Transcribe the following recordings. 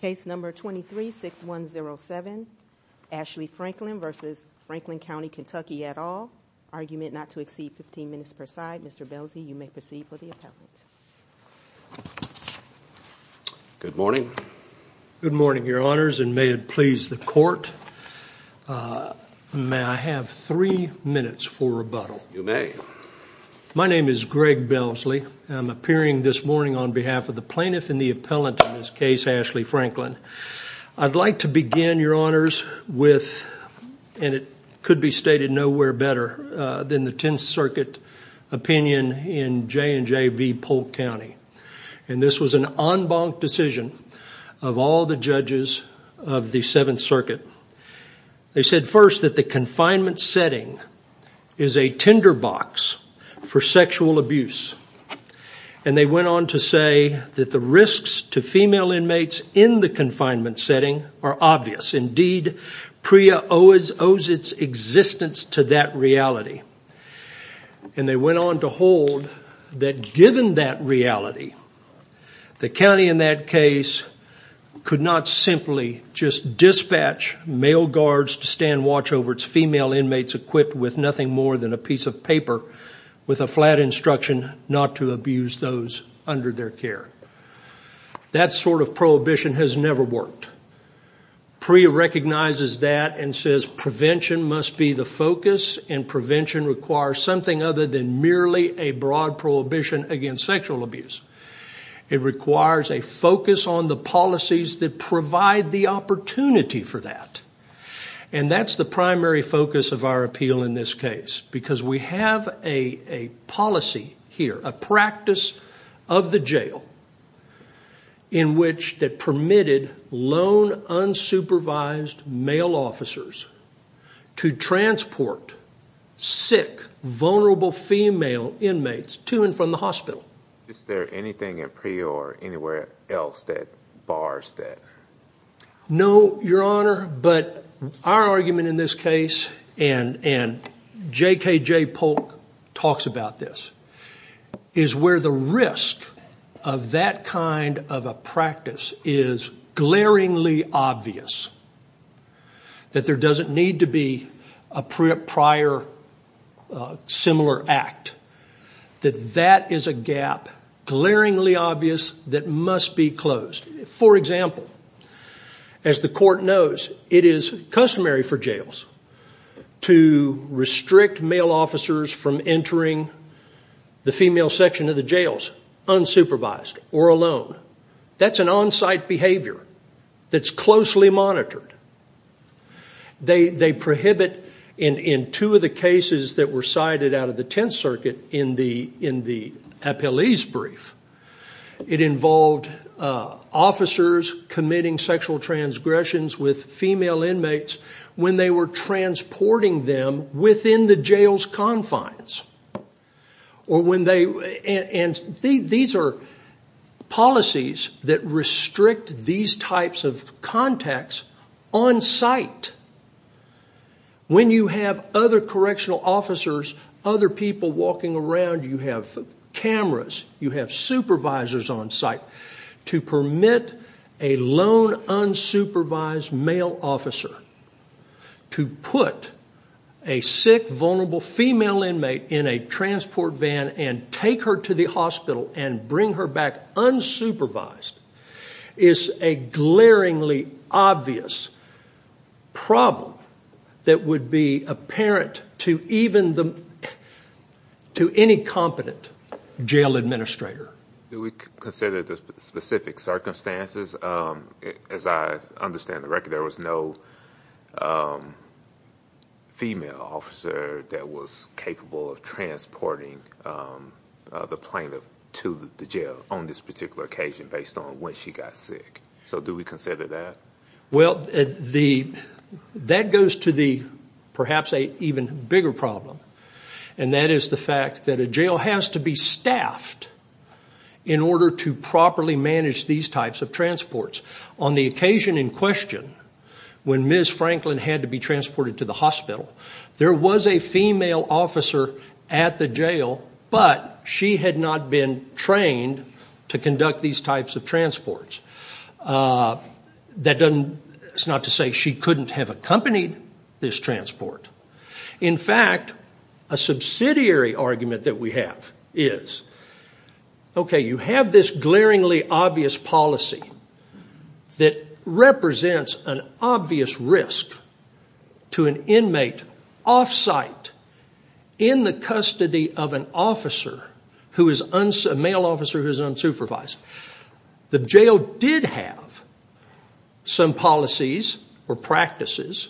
Case No. 23-6107, Ashley Franklin v. Franklin County KY at all. Argument not to exceed 15 minutes per side. Mr. Belsey, you may proceed with the appellant. Good morning. Good morning, Your Honors, and may it please the Court, may I have three minutes for rebuttal? You may. My name is Greg Belsey. I'm appearing this morning on behalf of the plaintiff and the appellant in this case, Ashley Franklin. I'd like to begin, Your Honors, with, and it could be stated nowhere better than the Tenth Circuit opinion in J&J v. Polk County. And this was an en banc decision of all the judges of the Seventh Circuit. They said first that the confinement setting is a tinderbox for sexual abuse. And they went on to say that the risks to female inmates in the confinement setting are obvious. Indeed, PREA owes its existence to that reality. And they went on to hold that given that reality, the county in that case could not simply just dispatch male guards to stand watch over its female inmates equipped with nothing more than a piece of paper with a flat instruction not to abuse those under their care. That sort of prohibition has never worked. PREA recognizes that and says prevention must be the focus and prevention requires something other than merely a broad prohibition against sexual abuse. It requires a focus on the policies that provide the opportunity for that. And that's the primary focus of our appeal in this case. Because we have a policy here, a practice of the jail, in which that permitted lone, unsupervised male officers to transport sick, vulnerable female inmates to and from the hospital. Is there anything at PREA or anywhere else that bars that? No, Your Honor, but our argument in this case, and J.K.J. Polk talks about this, is where the risk of that kind of a practice is glaringly obvious. That there doesn't need to be a prior similar act. That that is a gap, glaringly obvious, that must be closed. For example, as the court knows, it is customary for jails to restrict male officers from entering the female section of the jails, unsupervised or alone. That's an on-site behavior that's closely monitored. They prohibit, in two of the cases that were cited out of the Tenth Circuit in the appellee's brief, it involved officers committing sexual transgressions with female inmates when they were transporting them within the jail's confines. These are policies that restrict these types of contacts on-site. When you have other correctional officers, other people walking around, you have cameras, you have supervisors on-site, to permit a lone, unsupervised male officer to put a sick, vulnerable female inmate in a transport van and take her to the hospital and bring her back unsupervised is a glaringly obvious problem that would be apparent to any competent jail administrator. Do we consider the specific circumstances? As I understand the record, there was no female officer that was capable of transporting the plaintiff to the jail on this particular occasion based on when she got sick. Do we consider that? That goes to perhaps an even bigger problem, and that is the fact that a jail has to be staffed in order to properly manage these types of transports. On the occasion in question, when Ms. Franklin had to be transported to the hospital, there was a female officer at the jail, but she had not been trained to conduct these types of transports. That's not to say she couldn't have accompanied this transport. In fact, a subsidiary argument that we have is, you have this glaringly obvious policy that represents an obvious risk to an inmate off-site, in the custody of a male officer who is unsupervised. The jail did have some policies or practices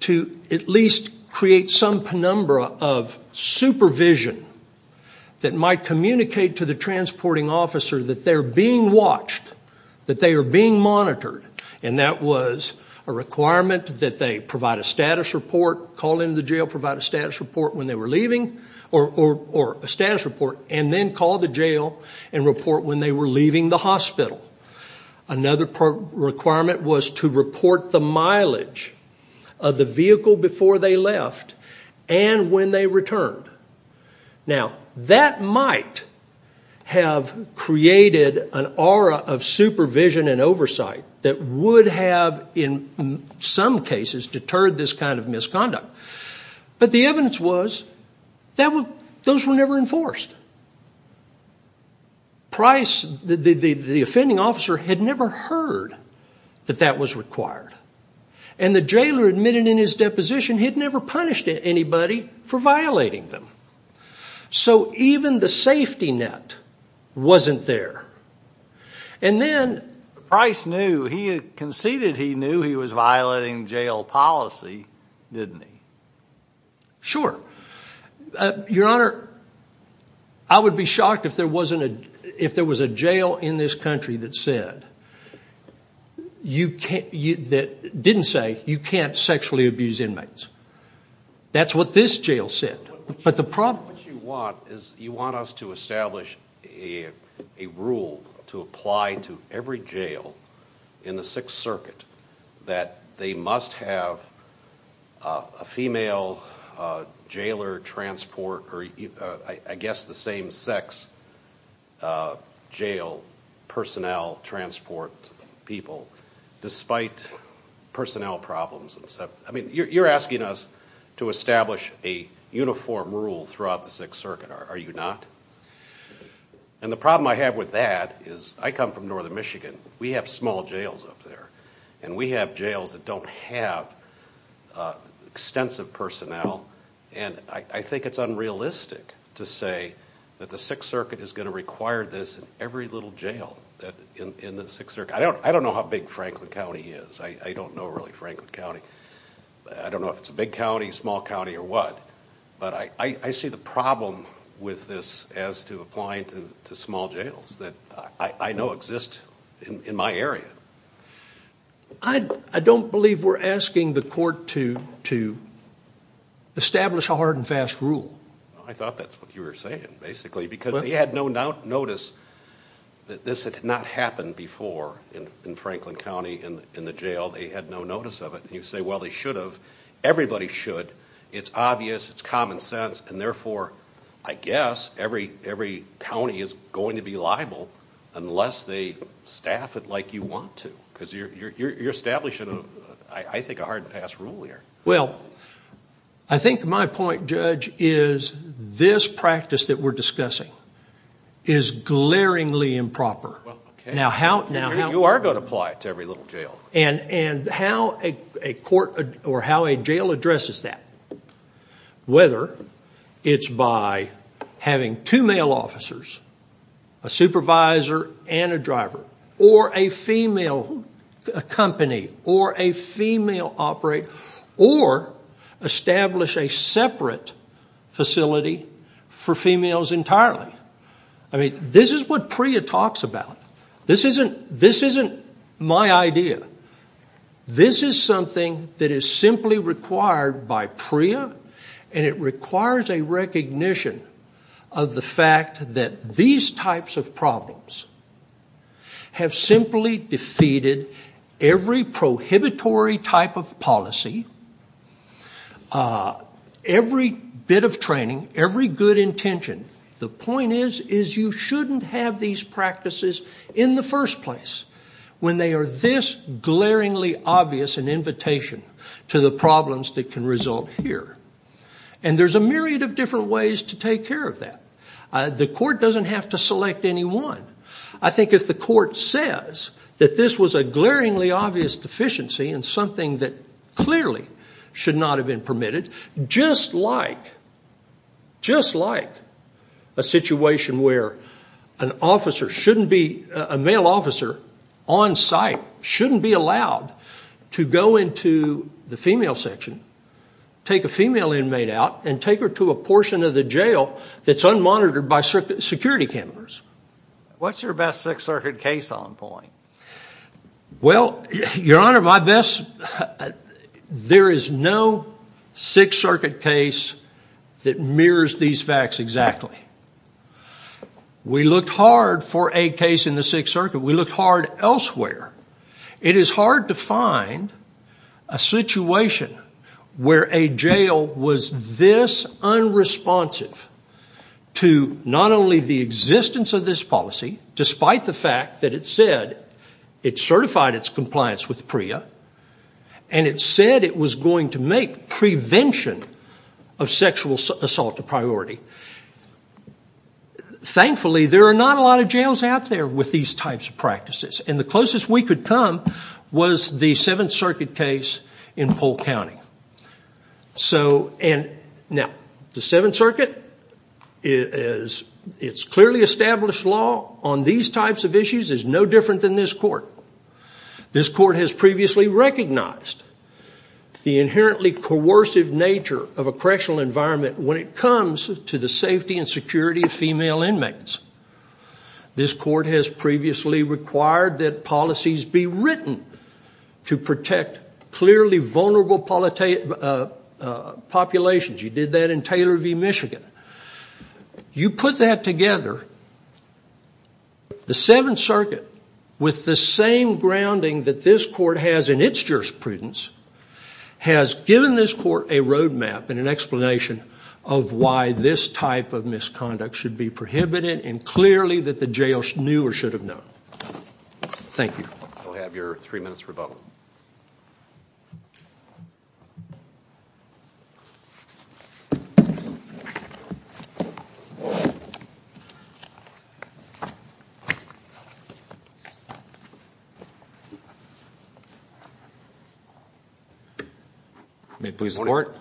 to at least create some penumbra of supervision that might communicate to the transporting officer that they're being watched, that they are being monitored, and that was a requirement that they provide a status report, call into the jail, provide a status report when they were leaving, or a status report, and then call the jail and report when they were leaving the hospital. Another requirement was to report the mileage of the vehicle before they left and when they returned. Now, that might have created an aura of supervision and oversight that would have, in some cases, deterred this kind of misconduct, but the evidence was those were never enforced. Price, the offending officer, had never heard that that was required, and the jailer admitted in his deposition he had never punished anybody for violating them. So even the safety net wasn't there. And then— Price knew, he conceded he knew he was violating jail policy, didn't he? Sure. Your Honor, I would be shocked if there was a jail in this country that didn't say, you can't sexually abuse inmates. That's what this jail said. What you want is you want us to establish a rule to apply to every jail in the Sixth Circuit that they must have a female jailer transport, or I guess the same sex jail personnel transport people, despite personnel problems. You're asking us to establish a uniform rule throughout the Sixth Circuit, are you not? And the problem I have with that is I come from northern Michigan. We have small jails up there, and we have jails that don't have extensive personnel, and I think it's unrealistic to say that the Sixth Circuit is going to require this in every little jail. I don't know how big Franklin County is. I don't know, really, Franklin County. I don't know if it's a big county, small county, or what, but I see the problem with this as to applying to small jails that I know exist in my area. I don't believe we're asking the court to establish a hard and fast rule. I thought that's what you were saying, basically, because they had no notice that this had not happened before in Franklin County in the jail. They had no notice of it, and you say, well, they should have. Everybody should. It's obvious. It's common sense, and therefore I guess every county is going to be liable unless they staff it like you want to because you're establishing, I think, a hard and fast rule here. Well, I think my point, Judge, is this practice that we're discussing is glaringly improper. You are going to apply it to every little jail. And how a court or how a jail addresses that, whether it's by having two male officers, a supervisor and a driver, or a female company, or a female operator, or establish a separate facility for females entirely. I mean, this is what PREA talks about. This isn't my idea. This is something that is simply required by PREA, and it requires a recognition of the fact that these types of problems have simply defeated every prohibitory type of policy, every bit of training, every good intention. The point is you shouldn't have these practices in the first place when they are this glaringly obvious an invitation to the problems that can result here. And there's a myriad of different ways to take care of that. The court doesn't have to select any one. I think if the court says that this was a glaringly obvious deficiency and something that clearly should not have been permitted, just like a situation where a male officer on site shouldn't be allowed to go into the female section, take a female inmate out, and take her to a portion of the jail that's unmonitored by security cameras. What's your best Sixth Circuit case on point? Well, Your Honor, there is no Sixth Circuit case that mirrors these facts exactly. We looked hard for a case in the Sixth Circuit. We looked hard elsewhere. It is hard to find a situation where a jail was this unresponsive to not only the existence of this policy, despite the fact that it said it certified its compliance with PREA, and it said it was going to make prevention of sexual assault a priority. Thankfully, there are not a lot of jails out there with these types of practices. And the closest we could come was the Seventh Circuit case in Polk County. Now, the Seventh Circuit, its clearly established law on these types of issues is no different than this court. This court has previously recognized the inherently coercive nature of a correctional environment when it comes to the safety and security of female inmates. This court has previously required that policies be written to protect clearly vulnerable populations. You did that in Taylor v. Michigan. You put that together, the Seventh Circuit, with the same grounding that this court has in its jurisprudence, has given this court a roadmap and an explanation of why this type of misconduct should be prohibited and clearly that the jail knew or should have known. Thank you. We'll have your three minutes rebuttal. May it please the court.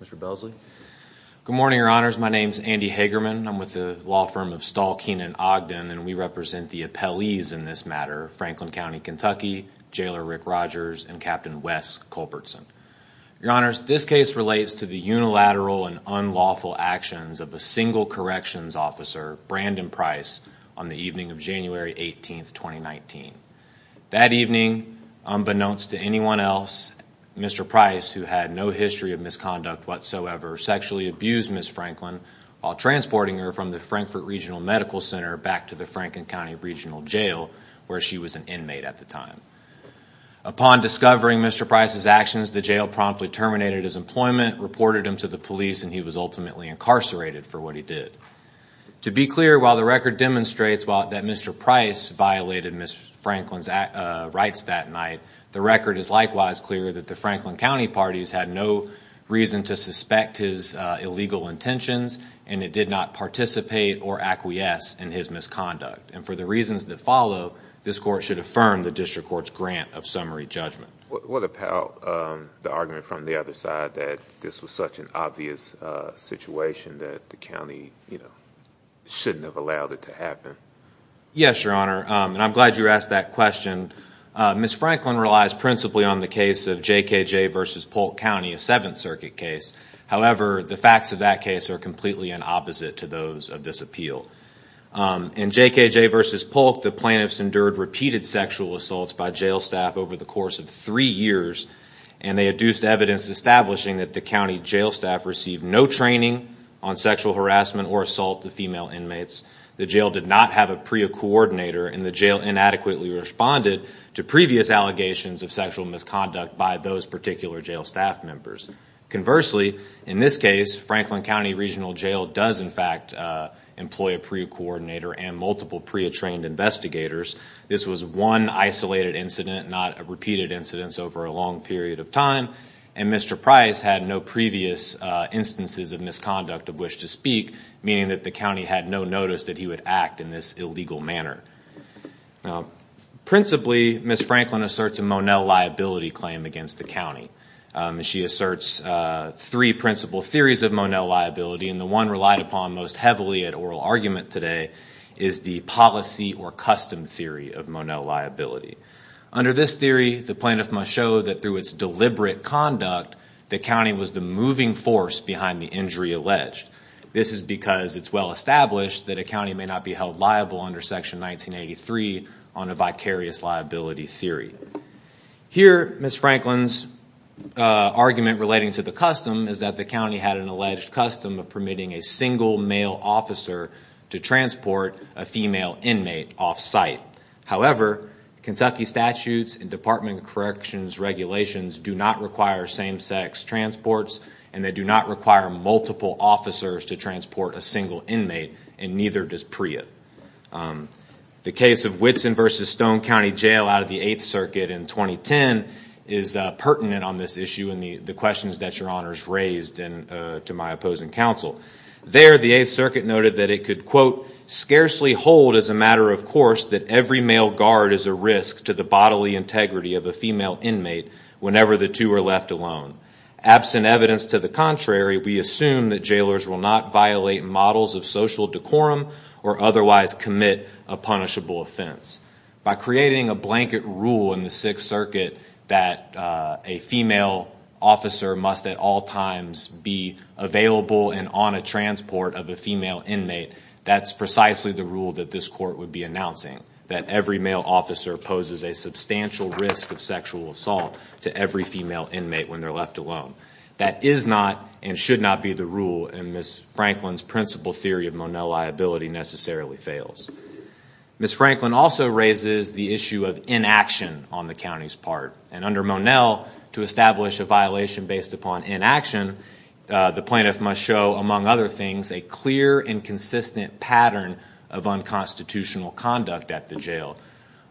Mr. Belsley. Good morning, your honors. My name is Andy Hagerman. I'm with the law firm of Stahl, Keenan, Ogden, and we represent the appellees in this matter, Franklin County, Kentucky, Jailer Rick Rogers, and Captain Wes Culbertson. Your honors, this case relates to the unilateral and unlawful actions of a single corrections officer, Brandon Price, on the evening of January 18, 2019. That evening, unbeknownst to anyone else, Mr. Price, who had no history of misconduct whatsoever, sexually abused Ms. Franklin while transporting her from the Frankfurt Regional Medical Center back to the Franklin County Regional Jail, where she was an inmate at the time. Upon discovering Mr. Price's actions, the jail promptly terminated his employment, reported him to the police, and he was ultimately incarcerated for what he did. To be clear, while the record demonstrates that Mr. Price violated Ms. Franklin's rights that night, the record is likewise clear that the Franklin County parties had no reason to suspect his illegal intentions and it did not participate or acquiesce in his misconduct. And for the reasons that follow, this court should affirm the district court's grant of summary judgment. What about the argument from the other side that this was such an obvious situation that the county, you know, shouldn't have allowed it to happen? Yes, your honor, and I'm glad you asked that question. Ms. Franklin relies principally on the case of JKJ v. Polk County, a Seventh Circuit case. However, the facts of that case are completely in opposite to those of this appeal. In JKJ v. Polk, the plaintiffs endured repeated sexual assaults by jail staff over the course of three years, and they adduced evidence establishing that the county jail staff received no training on sexual harassment or assault of female inmates, the jail did not have a PREA coordinator, and the jail inadequately responded to previous allegations of sexual misconduct by those particular jail staff members. Conversely, in this case, Franklin County Regional Jail does, in fact, employ a PREA coordinator and multiple PREA-trained investigators. This was one isolated incident, not repeated incidents over a long period of time, and Mr. Price had no previous instances of misconduct of which to speak, meaning that the county had no notice that he would act in this illegal manner. Principally, Ms. Franklin asserts a Monell liability claim against the county. She asserts three principal theories of Monell liability, and the one relied upon most heavily at oral argument today is the policy or custom theory of Monell liability. Under this theory, the plaintiff must show that through its deliberate conduct, the county was the moving force behind the injury alleged. This is because it's well established that a county may not be held liable under Section 1983 on a vicarious liability theory. Here, Ms. Franklin's argument relating to the custom is that the county had an alleged custom of permitting a single male officer to transport a female inmate off-site. However, Kentucky statutes and Department of Corrections regulations do not require same-sex transports, and they do not require multiple officers to transport a single inmate, and neither does PREA. The case of Whitson v. Stone County Jail out of the Eighth Circuit in 2010 is pertinent on this issue and the questions that Your Honors raised to my opposing counsel. There, the Eighth Circuit noted that it could, quote, scarcely hold as a matter of course that every male guard is a risk to the bodily integrity of a female inmate whenever the two are left alone. Absent evidence to the contrary, we assume that jailers will not violate models of social decorum or otherwise commit a punishable offense. By creating a blanket rule in the Sixth Circuit that a female officer must at all times be available and on a transport of a female inmate, that's precisely the rule that this Court would be announcing, that every male officer poses a substantial risk of sexual assault to every female inmate when they're left alone. That is not and should not be the rule, and Ms. Franklin's principle theory of Monell liability necessarily fails. Ms. Franklin also raises the issue of inaction on the county's part, and under Monell, to establish a violation based upon inaction, the plaintiff must show, among other things, a clear and consistent pattern of unconstitutional conduct at the jail.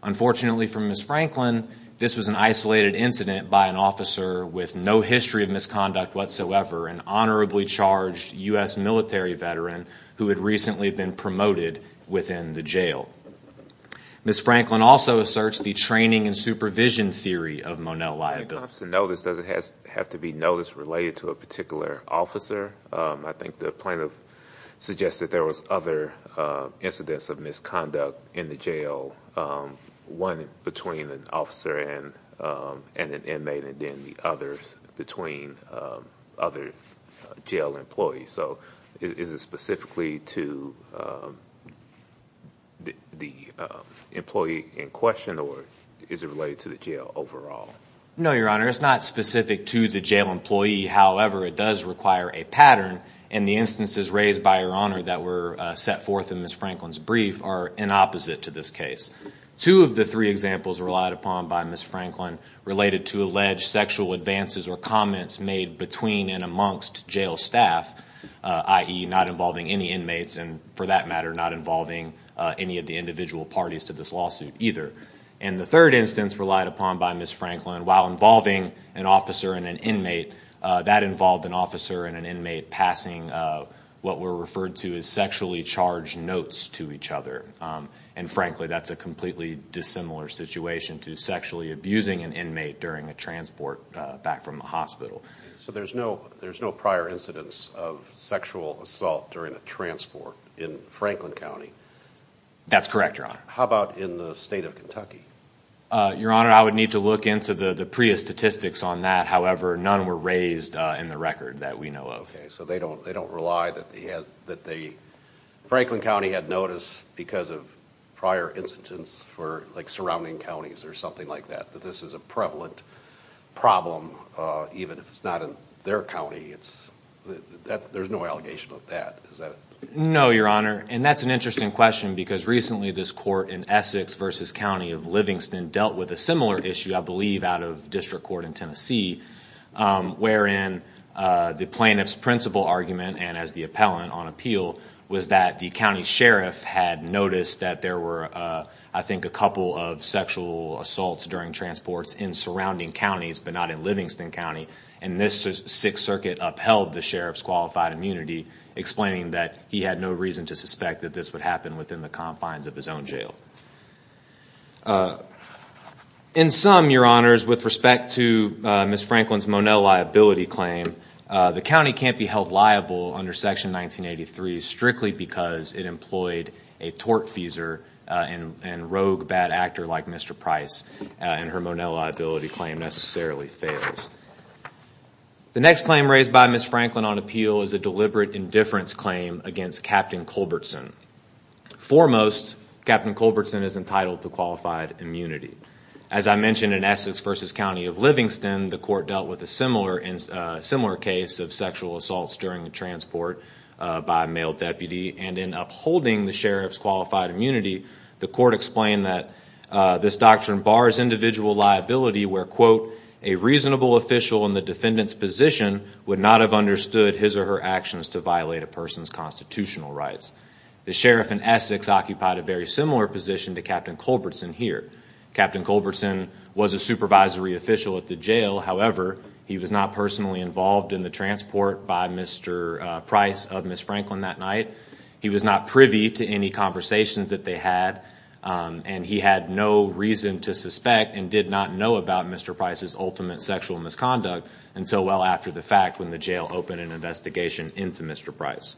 Unfortunately for Ms. Franklin, this was an isolated incident by an officer with no history of misconduct whatsoever, an honorably charged U.S. military veteran who had recently been promoted within the jail. Ms. Franklin also asserts the training and supervision theory of Monell liability. The Thompson notice doesn't have to be notice related to a particular officer. I think the plaintiff suggested there was other incidents of misconduct in the jail, one between an officer and an inmate and then the others between other jail employees. So is it specifically to the employee in question, or is it related to the jail overall? No, Your Honor, it's not specific to the jail employee. However, it does require a pattern, and the instances raised by Your Honor that were set forth in Ms. Franklin's brief are in opposite to this case. Two of the three examples relied upon by Ms. Franklin related to alleged sexual advances or comments made between and amongst jail staff, i.e. not involving any inmates and, for that matter, not involving any of the individual parties to this lawsuit either. And the third instance relied upon by Ms. Franklin, while involving an officer and an inmate, that involved an officer and an inmate passing what were referred to as sexually charged notes to each other. And frankly, that's a completely dissimilar situation to sexually abusing an inmate during a transport back from the hospital. So there's no prior incidents of sexual assault during a transport in Franklin County? That's correct, Your Honor. How about in the state of Kentucky? Your Honor, I would need to look into the PREA statistics on that. However, none were raised in the record that we know of. Okay, so they don't rely that Franklin County had notice because of prior incidents for surrounding counties or something like that, that this is a prevalent problem, even if it's not in their county. There's no allegation of that, is there? No, Your Honor. And that's an interesting question because recently this court in Essex v. County of Livingston dealt with a similar issue, I believe, out of district court in Tennessee, wherein the plaintiff's principal argument, and as the appellant on appeal, was that the county sheriff had noticed that there were, I think, a couple of sexual assaults during transports in surrounding counties but not in Livingston County. And this Sixth Circuit upheld the sheriff's qualified immunity, explaining that he had no reason to suspect that this would happen within the confines of his own jail. In sum, Your Honors, with respect to Ms. Franklin's Monell liability claim, the county can't be held liable under Section 1983 strictly because it employed a tortfeasor and rogue bad actor like Mr. Price, and her Monell liability claim necessarily fails. The next claim raised by Ms. Franklin on appeal is a deliberate indifference claim against Captain Culbertson. Foremost, Captain Culbertson is entitled to qualified immunity. As I mentioned in Essex v. County of Livingston, the court dealt with a similar case of sexual assaults during transport by a male deputy, and in upholding the sheriff's qualified immunity, the court explained that this doctrine bars individual liability where, a reasonable official in the defendant's position would not have understood his or her actions to violate a person's constitutional rights. The sheriff in Essex occupied a very similar position to Captain Culbertson here. Captain Culbertson was a supervisory official at the jail. However, he was not personally involved in the transport by Mr. Price of Ms. Franklin that night. He was not privy to any conversations that they had, and he had no reason to suspect and did not know about Mr. Price's ultimate sexual misconduct until well after the fact when the jail opened an investigation into Mr. Price.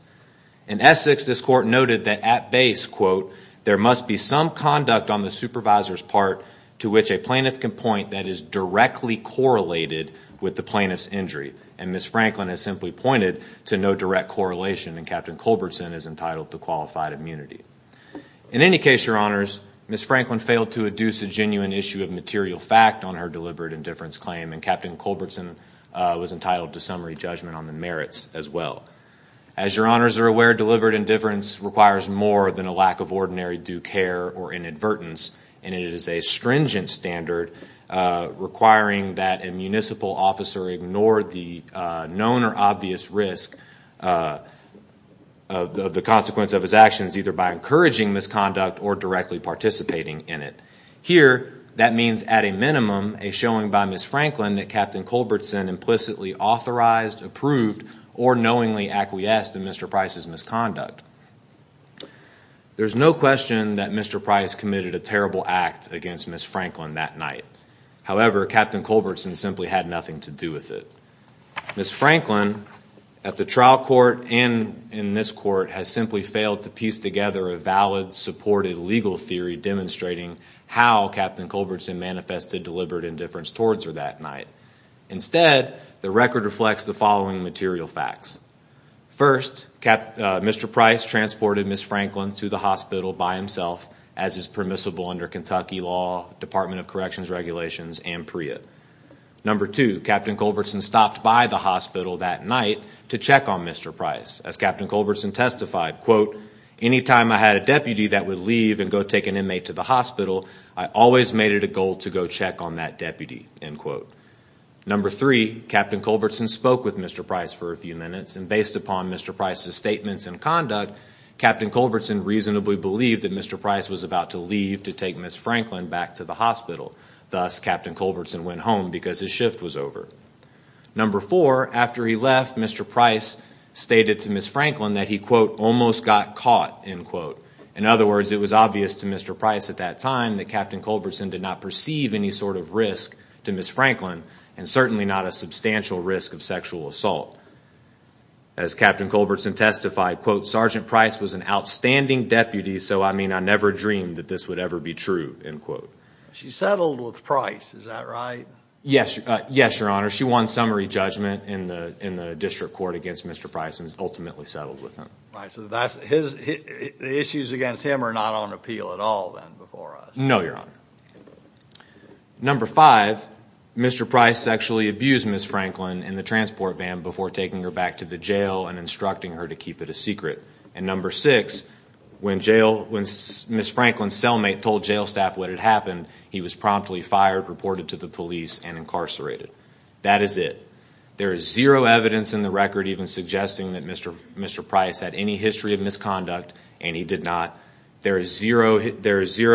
In Essex, this court noted that at base, there must be some conduct on the supervisor's part to which a plaintiff can point that is directly correlated with the plaintiff's injury, and Ms. Franklin has simply pointed to no direct correlation, and Captain Culbertson is entitled to qualified immunity. In any case, your honors, Ms. Franklin failed to adduce a genuine issue of material fact on her deliberate indifference claim, and Captain Culbertson was entitled to summary judgment on the merits as well. As your honors are aware, deliberate indifference requires more than a lack of ordinary due care or inadvertence, and it is a stringent standard requiring that a municipal officer ignore the known or obvious risk of the consequence of his actions, either by encouraging misconduct or directly participating in it. Here, that means at a minimum a showing by Ms. Franklin that Captain Culbertson implicitly authorized, approved, or knowingly acquiesced in Mr. Price's misconduct. There's no question that Mr. Price committed a terrible act against Ms. Franklin that night. However, Captain Culbertson simply had nothing to do with it. Ms. Franklin, at the trial court and in this court, has simply failed to piece together a valid, supported legal theory demonstrating how Captain Culbertson manifested deliberate indifference towards her that night. Instead, the record reflects the following material facts. First, Mr. Price transported Ms. Franklin to the hospital by himself, as is permissible under Kentucky law, Department of Corrections regulations, and PREA. Number two, Captain Culbertson stopped by the hospital that night to check on Mr. Price. As Captain Culbertson testified, quote, Any time I had a deputy that would leave and go take an inmate to the hospital, I always made it a goal to go check on that deputy, end quote. Number three, Captain Culbertson spoke with Mr. Price for a few minutes, and based upon Mr. Price's statements and conduct, Captain Culbertson reasonably believed that Mr. Price was about to leave to take Ms. Franklin back to the hospital. Thus, Captain Culbertson went home because his shift was over. Number four, after he left, Mr. Price stated to Ms. Franklin that he, quote, almost got caught, end quote. In other words, it was obvious to Mr. Price at that time that Captain Culbertson did not perceive any sort of risk to Ms. Franklin, and certainly not a substantial risk of sexual assault. As Captain Culbertson testified, quote, Sergeant Price was an outstanding deputy, so I mean I never dreamed that this would ever be true, end quote. She settled with Price, is that right? Yes, Your Honor. She won summary judgment in the district court against Mr. Price and ultimately settled with him. So the issues against him are not on appeal at all then before us? No, Your Honor. Number five, Mr. Price sexually abused Ms. Franklin in the transport van before taking her back to the jail and instructing her to keep it a secret. And number six, when Ms. Franklin's cellmate told jail staff what had happened, he was promptly fired, reported to the police, and incarcerated. That is it. There is zero evidence in the record even suggesting that Mr. Price had any history of misconduct, and he did not. There is zero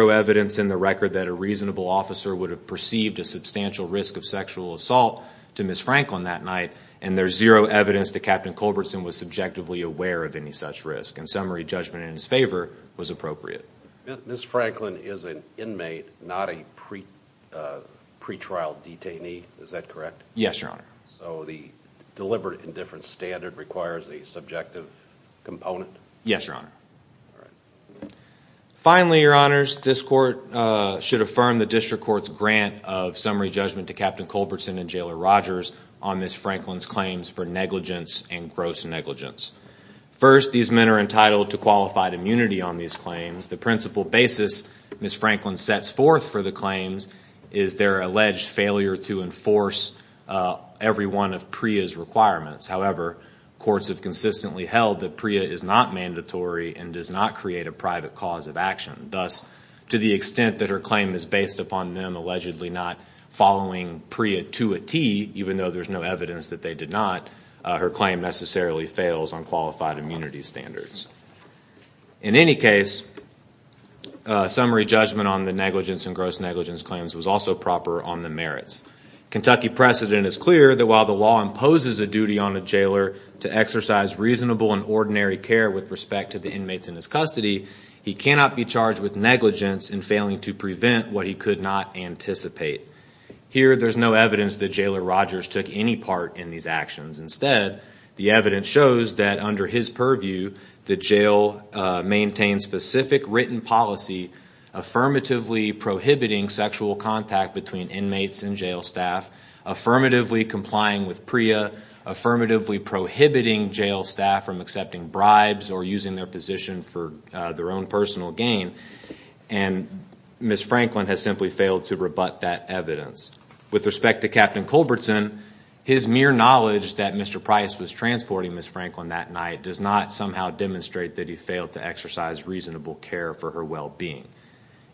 evidence in the record that a reasonable officer would have perceived a substantial risk of sexual assault to Ms. Franklin that night, and there's zero evidence that Captain Culbertson was subjectively aware of any such risk. And summary judgment in his favor was appropriate. Ms. Franklin is an inmate, not a pretrial detainee, is that correct? Yes, Your Honor. So the deliberate indifference standard requires a subjective component? Yes, Your Honor. Finally, Your Honors, this court should affirm the district court's grant of summary judgment to Captain Culbertson and Jailer Rogers on Ms. Franklin's claims for negligence and gross negligence. First, these men are entitled to qualified immunity on these claims. The principal basis Ms. Franklin sets forth for the claims is their alleged failure to enforce every one of PREA's requirements. However, courts have consistently held that PREA is not mandatory and does not create a private cause of action. Thus, to the extent that her claim is based upon them allegedly not following PREA to a T, even though there's no evidence that they did not, her claim necessarily fails on qualified immunity standards. In any case, summary judgment on the negligence and gross negligence claims was also proper on the merits. Kentucky precedent is clear that while the law imposes a duty on a jailer to exercise reasonable and ordinary care with respect to the inmates in his custody, he cannot be charged with negligence in failing to prevent what he could not anticipate. Here, there's no evidence that Jailer Rogers took any part in these actions. Instead, the evidence shows that under his purview, the jail maintains specific written policy affirmatively prohibiting sexual contact between inmates and jail staff, affirmatively complying with PREA, affirmatively prohibiting jail staff from accepting bribes or using their position for their own personal gain, and Ms. Franklin has simply failed to rebut that evidence. With respect to Captain Culbertson, his mere knowledge that Mr. Price was transporting Ms. Franklin that night does not somehow demonstrate that he failed to exercise reasonable care for her well-being.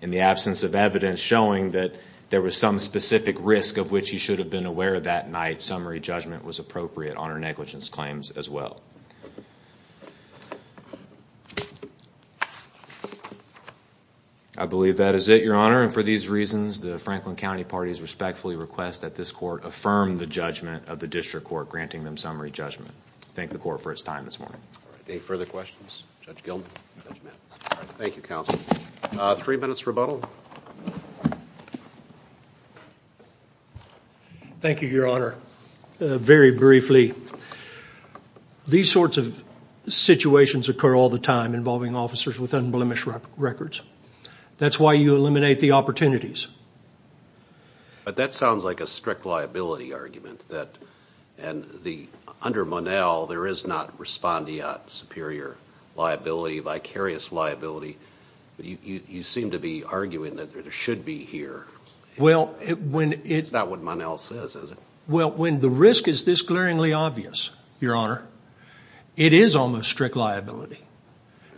In the absence of evidence showing that there was some specific risk of which he should have been aware that night, summary judgment was appropriate on her negligence claims as well. I believe that is it, Your Honor, and for these reasons, the Franklin County parties respectfully request that this Court affirm the judgment of the District Court granting them summary judgment. Thank the Court for its time this morning. Any further questions? Judge Gilman? Judge Maddox? Thank you, Counsel. Three minutes rebuttal. Thank you, Your Honor. Very briefly, these sorts of situations occur all the time involving officers with unblemished records. That's why you eliminate the opportunities. But that sounds like a strict liability argument. Under Monell, there is not respondeat superior liability, vicarious liability. You seem to be arguing that there should be here. That's not what Monell says, is it? Well, when the risk is this glaringly obvious, Your Honor, it is almost strict liability.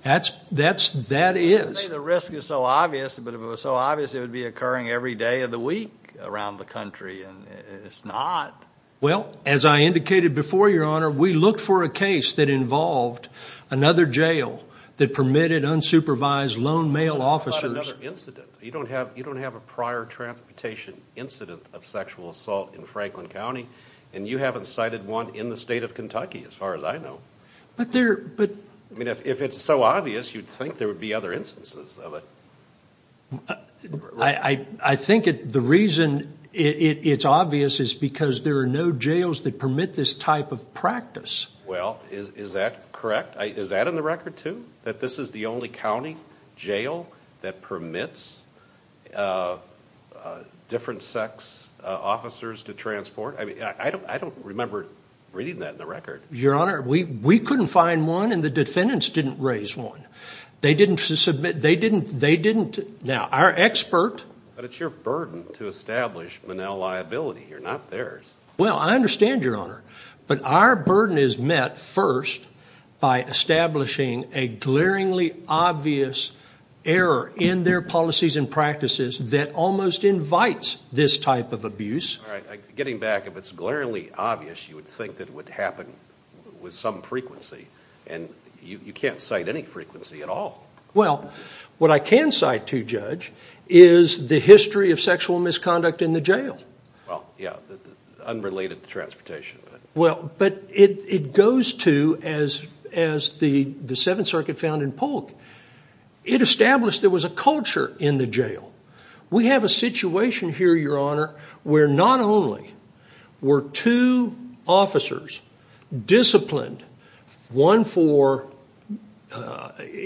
That is. You say the risk is so obvious, but if it was so obvious, it would be occurring every day of the week around the country. It's not. Well, as I indicated before, Your Honor, we look for a case that involved another jail that permitted unsupervised lone male officers. You don't have a prior transportation incident of sexual assault in Franklin County, and you haven't cited one in the state of Kentucky, as far as I know. If it's so obvious, you'd think there would be other instances of it. I think the reason it's obvious is because there are no jails that permit this type of practice. Well, is that correct? Is that in the record, too, that this is the only county jail that permits different sex officers to transport? I don't remember reading that in the record. Your Honor, we couldn't find one, and the defendants didn't raise one. They didn't submit. They didn't. Now, our expert. But it's your burden to establish Monell liability here, not theirs. Well, I understand, Your Honor. But our burden is met first by establishing a glaringly obvious error in their policies and practices that almost invites this type of abuse. All right. Getting back, if it's glaringly obvious, you would think that it would happen with some frequency. And you can't cite any frequency at all. Well, what I can cite to, Judge, is the history of sexual misconduct in the jail. Well, yeah, unrelated to transportation. Well, but it goes to, as the Seventh Circuit found in Polk, it established there was a culture in the jail. We have a situation here, Your Honor, where not only were two officers disciplined, one for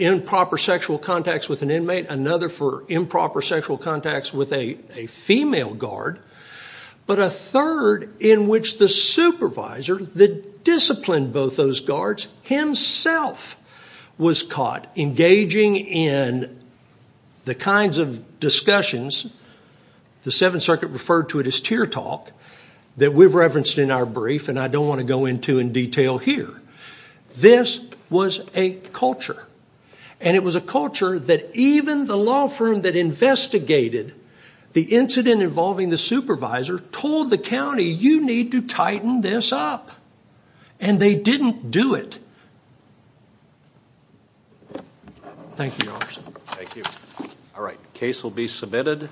improper sexual contacts with an inmate, another for improper sexual contacts with a female guard, but a third in which the supervisor that disciplined both those guards himself was caught engaging in the kinds of discussions, the Seventh Circuit referred to it as tear talk, that we've referenced in our brief and I don't want to go into in detail here. This was a culture. And it was a culture that even the law firm that investigated the incident involving the supervisor told the county, you need to tighten this up. And they didn't do it. Thank you, Your Honor. Thank you. All right. The case will be submitted.